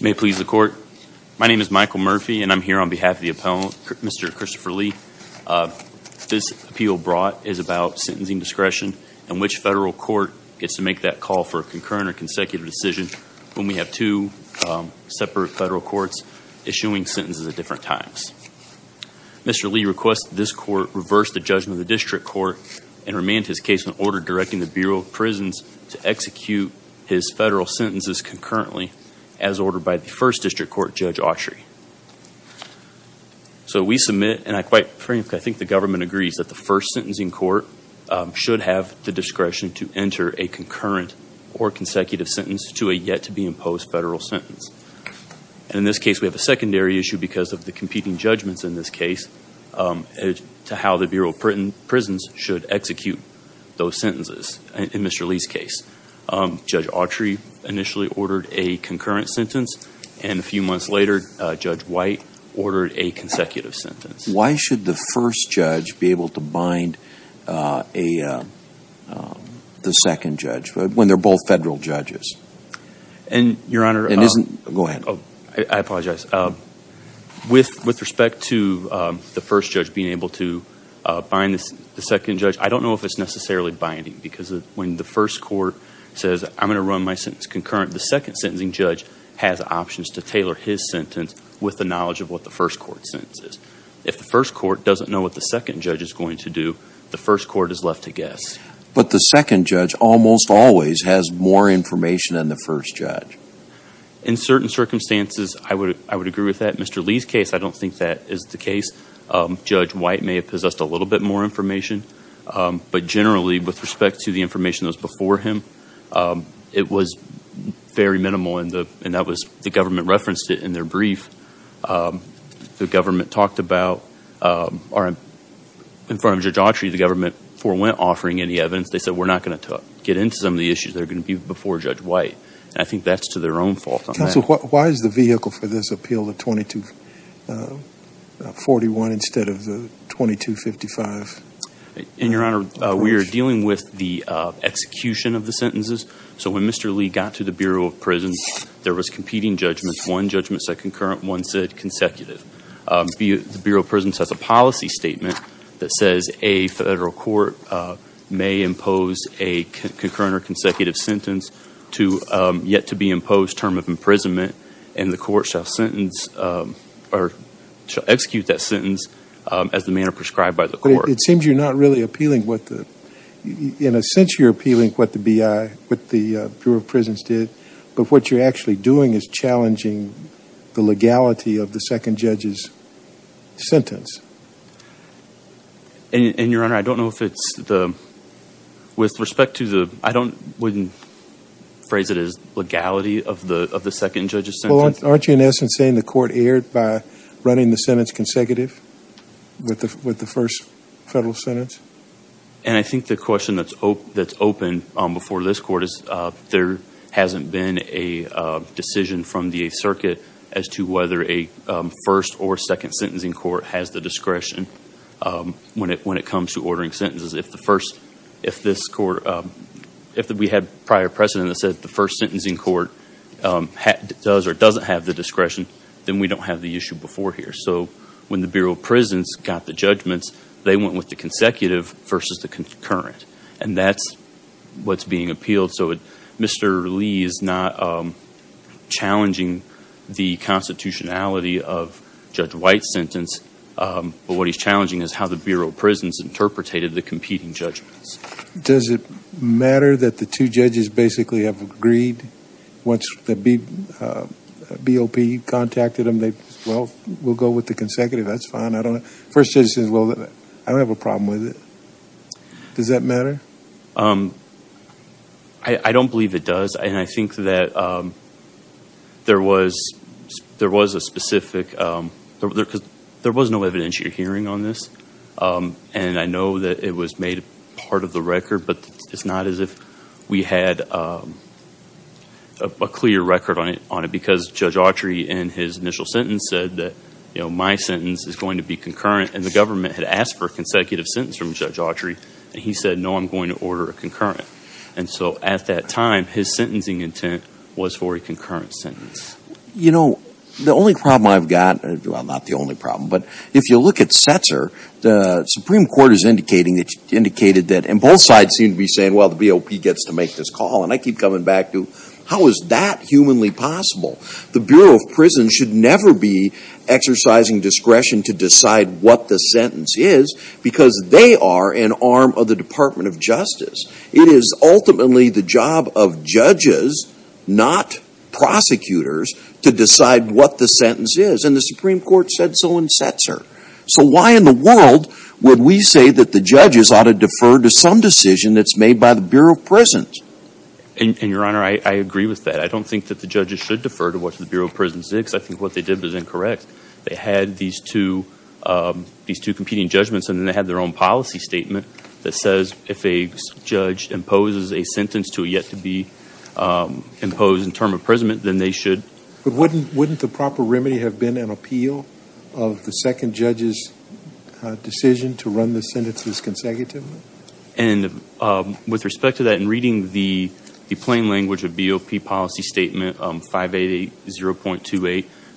May please the court. My name is Michael Murphy and I'm here on behalf of the appellant, Mr. Christopher Lee. This appeal brought is about sentencing discretion and which federal court gets to make that call for a concurrent or consecutive decision when we have two separate federal courts issuing sentences at different times. Mr. Lee requests this court reverse the judgment of the district court and remand his case in order directing the Bureau of Prisons to impose federal sentences concurrently as ordered by the first district court Judge Autry. So we submit and I quite frankly I think the government agrees that the first sentencing court should have the discretion to enter a concurrent or consecutive sentence to a yet-to-be imposed federal sentence. In this case we have a secondary issue because of the competing judgments in this case to how the Bureau of Prisons should execute those sentences in Mr. Lee's case. Judge Autry initially ordered a concurrent sentence and a few months later Judge White ordered a consecutive sentence. Why should the first judge be able to bind a the second judge when they're both federal judges? And your honor it isn't go ahead oh I apologize with with respect to the first judge being able to bind the second judge I don't know if it's necessarily binding because when the first court says I'm gonna run my sentence concurrent the second sentencing judge has options to tailor his sentence with the knowledge of what the first court sentences. If the first court doesn't know what the second judge is going to do the first court is left to guess. But the second judge almost always has more information than the first judge. In certain circumstances I would I would agree with that Mr. Lee's case I don't think that is the case. Judge White may have possessed a little bit more information but generally with respect to the information that was before him it was very minimal and the and that was the government referenced it in their brief. The government talked about or in front of Judge Autry the government forewent offering any evidence they said we're not going to get into some of the issues that are going to be before Judge White. I think that's to their own fault. Counsel why is the vehicle for this appeal the 2241 instead of the 2255? And your honor we are dealing with the execution of the sentences so when Mr. Lee got to the Bureau of Prisons there was competing judgments. One judgment said concurrent one said consecutive. The Bureau of Prisons has a policy statement that says a federal court may impose a concurrent or consecutive sentence to yet to be imposed term of imprisonment and the court shall sentence or execute that sentence as the manner prescribed by the court. It seems you're not really appealing what the in a sense you're appealing what the BI what the Bureau of Prisons did but what you're actually doing is challenging the legality of the second judge's sentence. And your honor I don't know if it's the with respect to the I don't wouldn't phrase it as legality of the of the second judge's sentence. Well aren't you in essence saying the court erred by running the sentence consecutive with the with the first federal sentence? And I think the question that's hope that's open before this court is there hasn't been a decision from the 8th Circuit as to whether a first or second sentencing court has the discretion when it when it comes to ordering sentences. If the first if this court if we had prior precedent that said the first sentencing court does or doesn't have the discretion then we don't have the issue before here. So when the Bureau of Prisons got the judgments they went with the consecutive versus the concurrent and that's what's not challenging the constitutionality of Judge White's sentence but what he's challenging is how the Bureau of Prisons interpreted the competing judgments. Does it matter that the two judges basically have agreed once the BOP contacted them they well we'll go with the consecutive that's fine I don't know first judge says well I don't have a problem with it. Does that matter? I don't believe it does and I think that there was there was a specific there because there was no evidentiary hearing on this and I know that it was made part of the record but it's not as if we had a clear record on it on it because Judge Autry in his initial sentence said that you know my sentence is going to be concurrent and the government had asked for a consecutive sentence from Judge Autry and he said no I'm going to order a concurrent and so at that time his sentencing intent was for a concurrent sentence. You know the only problem I've got well not the only problem but if you look at Setzer the Supreme Court is indicating that indicated that and both sides seem to be saying well the BOP gets to make this call and I keep coming back to how is that humanly possible the Bureau of Prisons should never be exercising discretion to decide what the arm of the Department of Justice. It is ultimately the job of judges not prosecutors to decide what the sentence is and the Supreme Court said so in Setzer. So why in the world would we say that the judges ought to defer to some decision that's made by the Bureau of Prisons? And your honor I agree with that I don't think that the judges should defer to what the Bureau of Prisons did because I think what they did was incorrect. They had these two these two competing judgments and then they had their own policy statement that says if a judge imposes a sentence to a yet to be imposed in term of imprisonment then they should. But wouldn't wouldn't the proper remedy have been an appeal of the second judge's decision to run the sentences consecutively? And with respect to that in reading the the plain language of BOP policy statement 580.28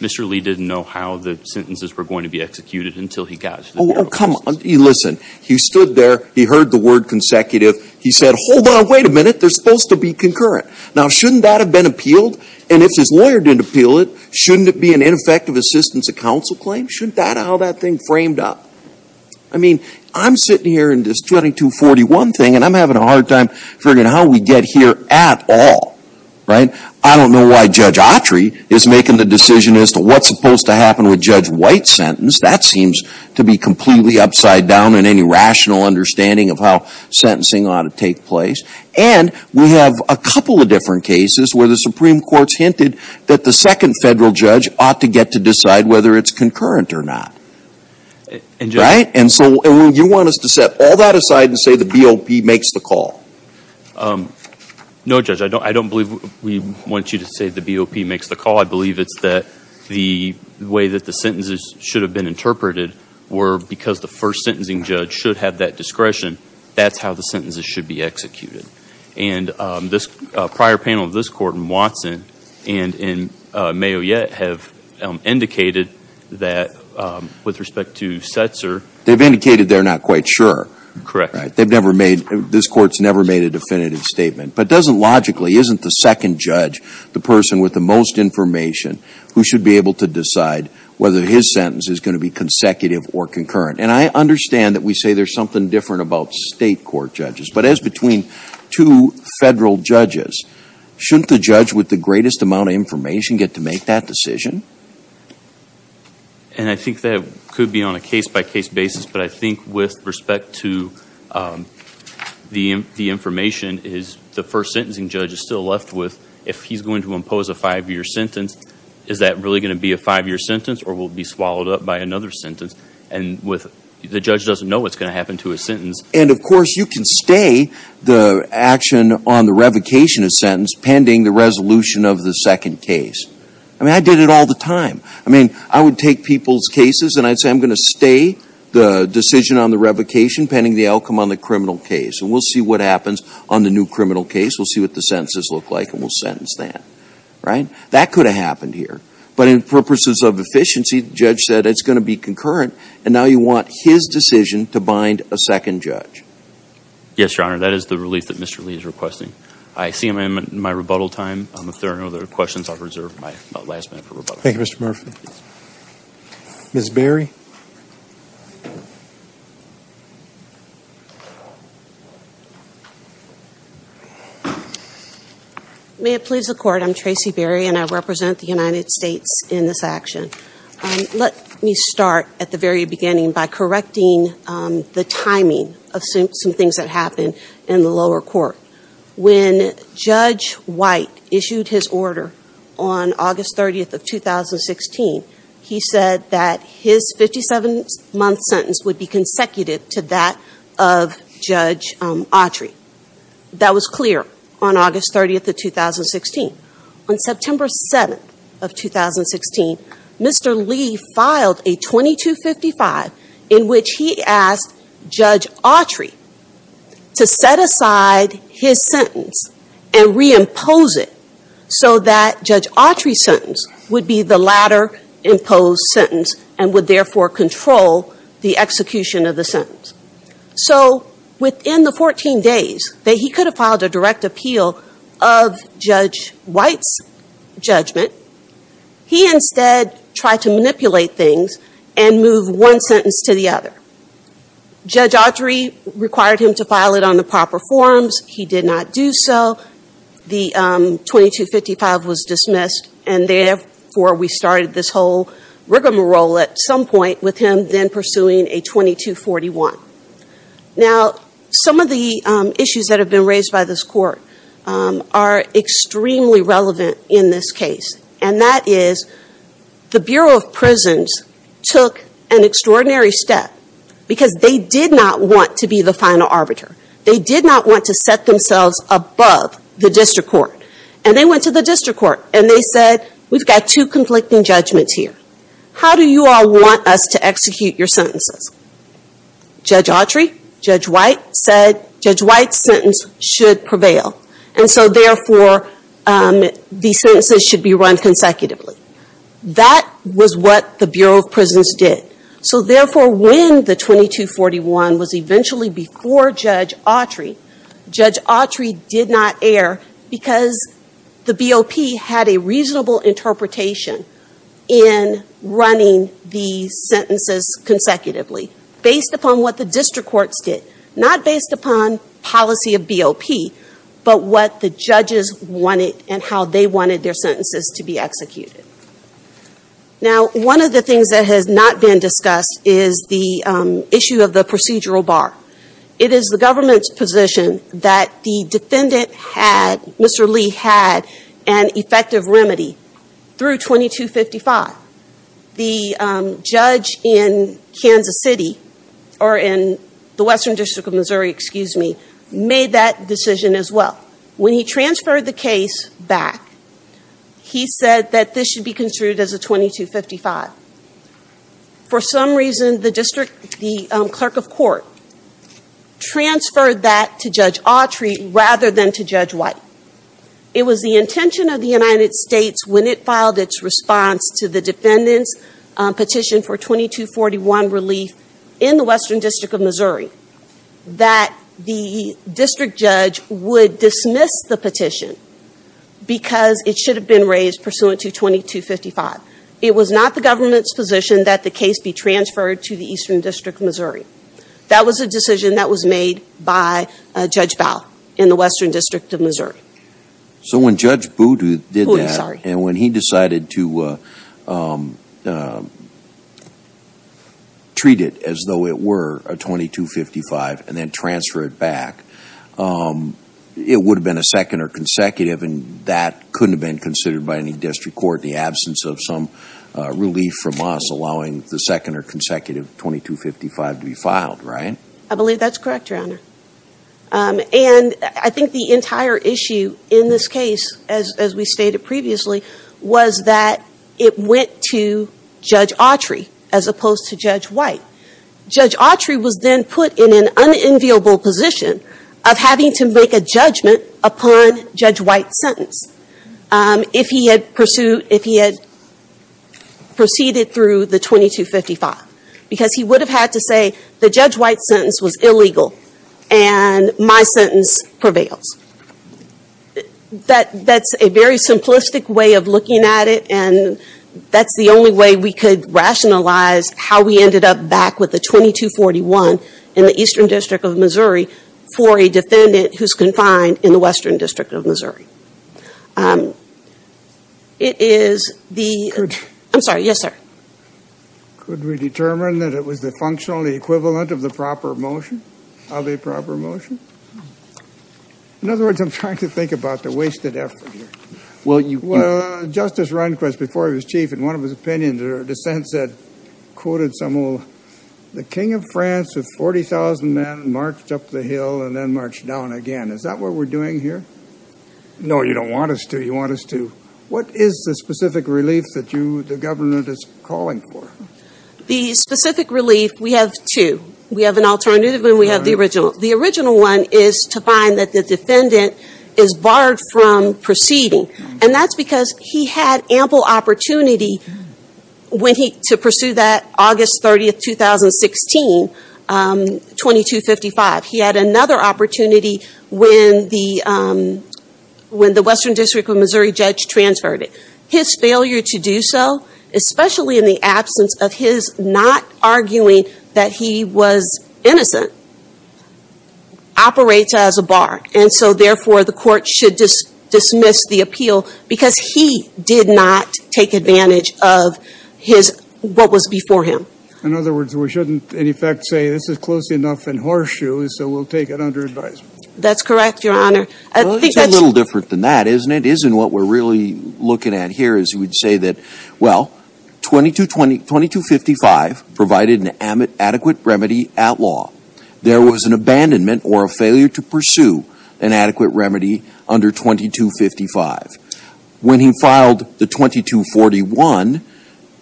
Mr. Lee didn't know how the sentences were going to be executed until he got Oh come on you listen he stood there he heard the word consecutive he said hold on wait a minute they're supposed to be concurrent. Now shouldn't that have been appealed and if his lawyer didn't appeal it shouldn't it be an ineffective assistance of counsel claim? Shouldn't that how that thing framed up? I mean I'm sitting here in this 2241 thing and I'm having a hard time figuring out how we get here at all. Right? I don't know why Judge Autry is making the decision as to what's supposed to happen with Judge White's sentence. That seems to be completely upside down in any rational understanding of how sentencing ought to take place. And we have a couple of different cases where the Supreme Court's hinted that the second federal judge ought to get to decide whether it's concurrent or not. Right? And so you want us to set all that aside and say the BOP makes the call. No Judge I don't I don't believe we want you to say the BOP makes the call. I believe it's that the way that the sentences should have been interpreted were because the first sentencing judge should have that discretion that's how the sentences should be executed. And this prior panel of this court in Watson and in Mayo yet have indicated that with respect to Setzer. They've indicated they're not quite sure. Correct. They've never made this court's never made a definitive statement but doesn't logically isn't the second judge the person with the most information who should be able to decide whether his sentence is going to be consecutive or concurrent. And I understand that we say there's something different about state court judges but as between two federal judges shouldn't the judge with the greatest amount of information get to make that decision? And I think that could be on a case-by- case basis but I think with respect to the the information is the first sentencing judge is still left with if he's going to impose a five-year sentence is that really going to be a five-year sentence or will be swallowed up by another sentence and with the judge doesn't know what's going to happen to a sentence. And of course you can stay the action on the revocation of sentence pending the resolution of the second case. I mean I did it all the time. I mean I would take people's cases and I'd say I'm gonna stay the decision on the revocation pending the outcome on the criminal case and we'll see what the sentences look like and we'll sentence that. Right? That could have happened here but in purposes of efficiency the judge said it's going to be concurrent and now you want his decision to bind a second judge. Yes your honor that is the relief that Mr. Lee is requesting. I see him in my rebuttal time. If there are no other questions I'll reserve my last minute for rebuttal. Thank you Mr. Murphy. Ms. Berry. May it please the court. I'm Tracy Berry and I represent the United States in this action. Let me start at the very beginning by correcting the timing of some things that happened in the lower court. When Judge White issued his order on August 30th of 2016 he said that his victory was not a victory for the 57-month sentence would be consecutive to that of Judge Autry. That was clear on August 30th of 2016. On September 7th of 2016 Mr. Lee filed a 2255 in which he asked Judge Autry to set aside his sentence and reimpose it so that Judge Autry's sentence would be the latter imposed sentence and would therefore control the execution of the sentence. So within the 14 days that he could have filed a direct appeal of Judge White's judgment he instead tried to manipulate things and move one sentence to the other. Judge Autry required him to file it on the proper forms. He did not do so. The 2255 was dismissed and therefore we started this whole rigmarole at some point with him then pursuing a 2241. Now some of the issues that have been raised by this court are extremely relevant in this case and that is the Bureau of Prisons took an extraordinary step because they did not want to be the final arbiter. They did not want to set themselves above the district court and they went to the district court and they said we've got two conflicting judgments here. How do you all want us to execute your sentences? Judge Autry, Judge White said Judge White's sentence should prevail and so therefore the sentences should be run consecutively. That was what the Bureau of Prisons did. So therefore when the 2241 was eventually before Judge Autry, Judge Autry did not err because the BOP had a reasonable interpretation in running the sentences consecutively based upon what the district courts did. Not based upon policy of BOP but what the judges wanted and how they wanted their sentences to be executed. Now one of the things that has not been discussed is the issue of the procedural bar. It is the government's position that the defendant had, Mr. Lee had an effective remedy through 2255. The judge in Kansas City or in the Western District of Missouri made that decision as well. When he transferred the case back he said that this should be construed as a 2255. For some reason the district, the clerk of court transferred that to Judge Autry rather than to Judge White. It was the intention of the United States when it filed its response to the defendant's for 2241 relief in the Western District of Missouri that the district judge would dismiss the petition because it should have been raised pursuant to 2255. It was not the government's position that the case be transferred to the Eastern District of Missouri. That was a decision that was made by Judge Bauer in the Western District of Missouri. So when Judge Boudu did that and when he decided to treat it as though it were a 2255 and then transfer it back, it would have been a second or consecutive and that couldn't have been considered by any district court in the absence of some relief from us allowing the second or consecutive 2255 to be filed, right? I believe that's correct, Your Honor. And I think the entire issue in this case, as we stated previously, was that it went to Judge Autry as opposed to Judge White. Judge Autry was then put in an unenviable position of having to make a judgment upon Judge White's sentence if he had pursued, if he had proceeded through the 2255 because he would have had to say the Judge White sentence was illegal and my sentence prevails. That's a very simplistic way of looking at it and that's the only way we could rationalize how we ended up back with the 2241 in the Eastern District of Missouri for a defendant who's confined in the Western District of Missouri. It is the, I'm sorry, yes sir. Could we determine that it was the functional equivalent of the proper motion, of a proper motion? In other words, I'm trying to think about the wasted effort here. Well, Justice Rehnquist, before he was chief, in one of his opinions or dissents said, quoted Samuel, the King of France with 40,000 men marched up the hill and then marched down again. Is that what we're doing here? No, you don't want us to. You want us to. What is the specific relief that you, the government, is calling for? The specific relief, we have two. We have an alternative and we have the original. The original one is to find that the defendant is barred from proceeding and that's because he had ample opportunity when he, to pursue that August 30th, 2016, 2255. He had another opportunity when the, when the Western District of Missouri judge transferred it. His failure to do so, especially in the absence of his not arguing that he was innocent, operates as a bar and so therefore the court should dismiss the appeal because he did not take advantage of his, what was before him. In other words, we shouldn't, in effect, say this is close enough in horseshoes so we'll take it under advisement. That's correct, your honor. Well, it's a little different than that, isn't it? Isn't what we're really looking at here is we'd say that, well, 22255 provided an adequate remedy at law. There was an abandonment or a failure to pursue an adequate remedy under 2255. When he filed the 2241,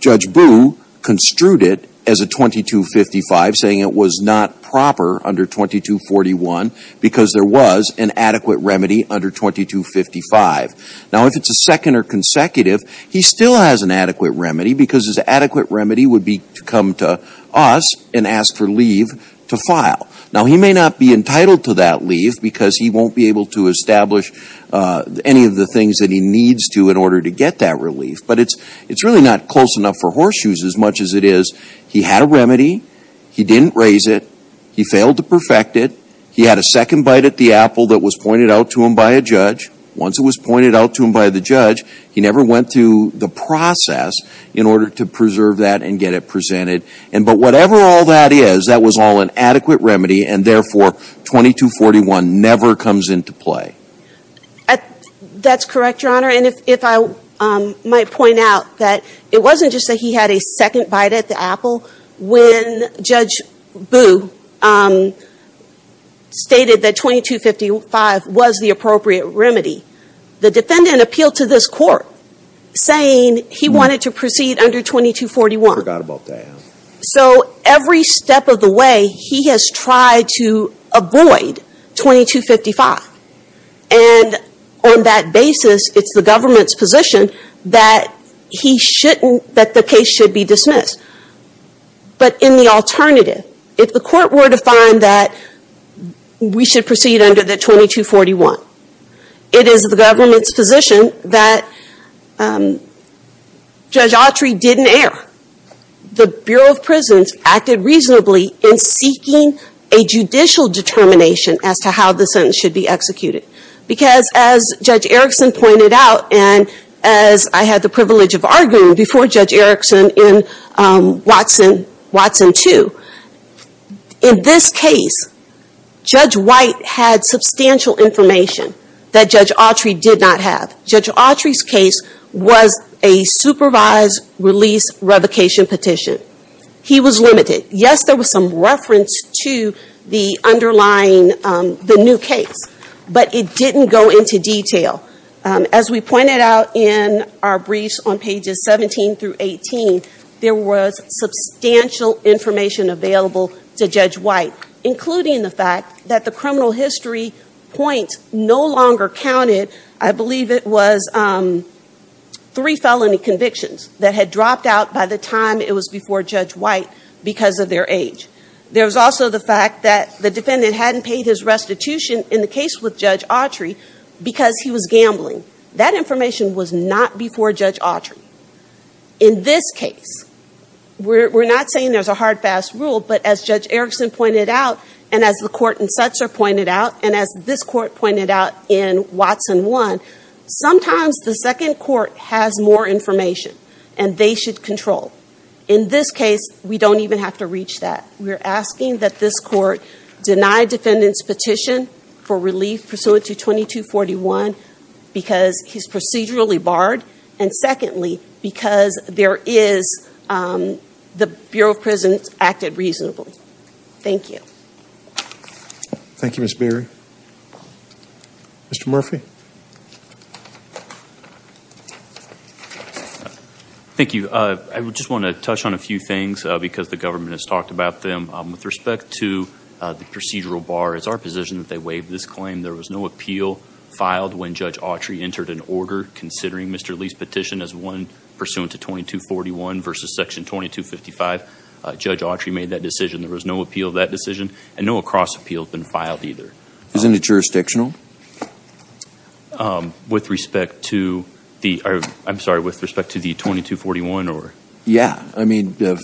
Judge Boo construed it as a 2255, saying it was not proper under 2241 because there was an adequate remedy under 2255. Now, if it's a second or consecutive, he still has an adequate remedy because his adequate remedy would be to come to us and ask for leave to file. Now, he may not be entitled to that leave because he won't be able to establish any of the things that he needs to in order to get that relief, but it's, it's really not close enough for horseshoes as much as it is. He had a remedy. He didn't raise it. He failed to perfect it. He had a second bite at the apple that was pointed out to him by a judge. Once it was pointed out to him by the judge, he never went through the process in order to preserve that and get it presented. And but whatever all that is, that was all an adequate remedy and therefore 2241 never comes into play. That's correct, your honor. And if, if I might point out that it wasn't just that he had a second bite at the apple, when Judge Booh, um, stated that 2255 was the appropriate remedy, the defendant appealed to this court saying he wanted to proceed under 2241. I forgot about that. So every step of the way, he has tried to avoid 2255 and on that basis, it's the government's position that he shouldn't, that the case should be dismissed. But in the alternative, if the court were to find that we should proceed under the 2241, it is the government's position that, um, Judge Autry didn't err. The Bureau of Prisons acted reasonably in seeking a judicial determination as to how the sentence should be executed. Because as Judge Erickson pointed out, and as I had the privilege of arguing before Judge Erickson in, um, Watson, Watson 2, in this case, Judge White had substantial information that Judge Autry did not have. Judge Autry's case was a supervised release revocation petition. He was limited. Yes, there was some reference to the underlying, um, the new case, but it didn't go into detail. As we pointed out in our briefs on pages 17 through 18, there was substantial information available to Judge White, including the fact that the criminal history point no longer counted. I believe it was, um, three felony convictions that had dropped out by the time it was before Judge White because of their age. There was also the fact that the defendant hadn't paid his restitution in the case with Judge Autry because he was gambling. That information was not before Judge Autry. In this case, we're not saying there's a hard, fast rule, but as Judge Erickson pointed out, and as the court in Setzer pointed out, and as this court pointed out in Watson 1, sometimes the second court has more information, and they should control. In this case, we don't even have to reach that. We're asking that this court deny defendant's petition for relief pursuant to 2241 because he's procedurally barred, and secondly, because there is, um, the Bureau of Prisons acted reasonably. Thank you. Thank you, Ms. Beery. Mr. Murphy? Thank you. I just want to touch on a few things because the government has talked about them. With respect to the procedural bar, it's our position that they waived this claim. There was no appeal filed when Judge Autry entered an order considering Mr. Lee's petition as one pursuant to 2241 versus Section 2255. Judge Autry made that decision. There was no appeal of that decision, and no across appeal has been filed either. Isn't it jurisdictional? Um, with respect to the, I'm sorry, with respect to the 2241, or? Yeah. I mean, the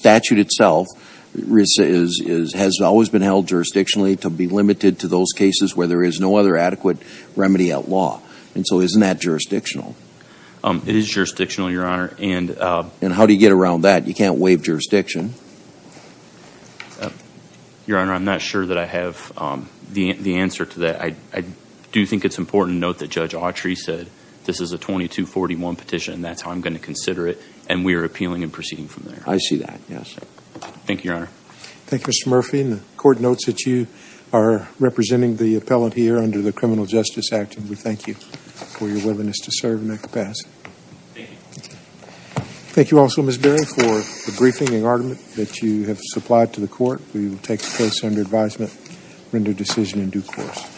statute itself has always been held jurisdictionally to be limited to those cases where there is no other adequate remedy at law, and so isn't that jurisdictional? It is jurisdictional, Your Honor, and, um... And how do you get around that? You can't waive jurisdiction. Your Honor, I'm not sure that I have, um, the answer to that. I do think it's important to note that Judge Autry said this is a 2241 petition, and that's how I'm going to consider it, and we are appealing and proceeding from there. I see that, yes. Thank you, Your Honor. Thank you, Mr. Murphy, and the Court notes that you are representing the appellant here under the Criminal Justice Act, and we thank you for your willingness to serve and make the pass. Thank you. Thank you also, Ms. Beering, for the briefing and argument that you have supplied to the Court. We will take the case under advisement, render decision in due course.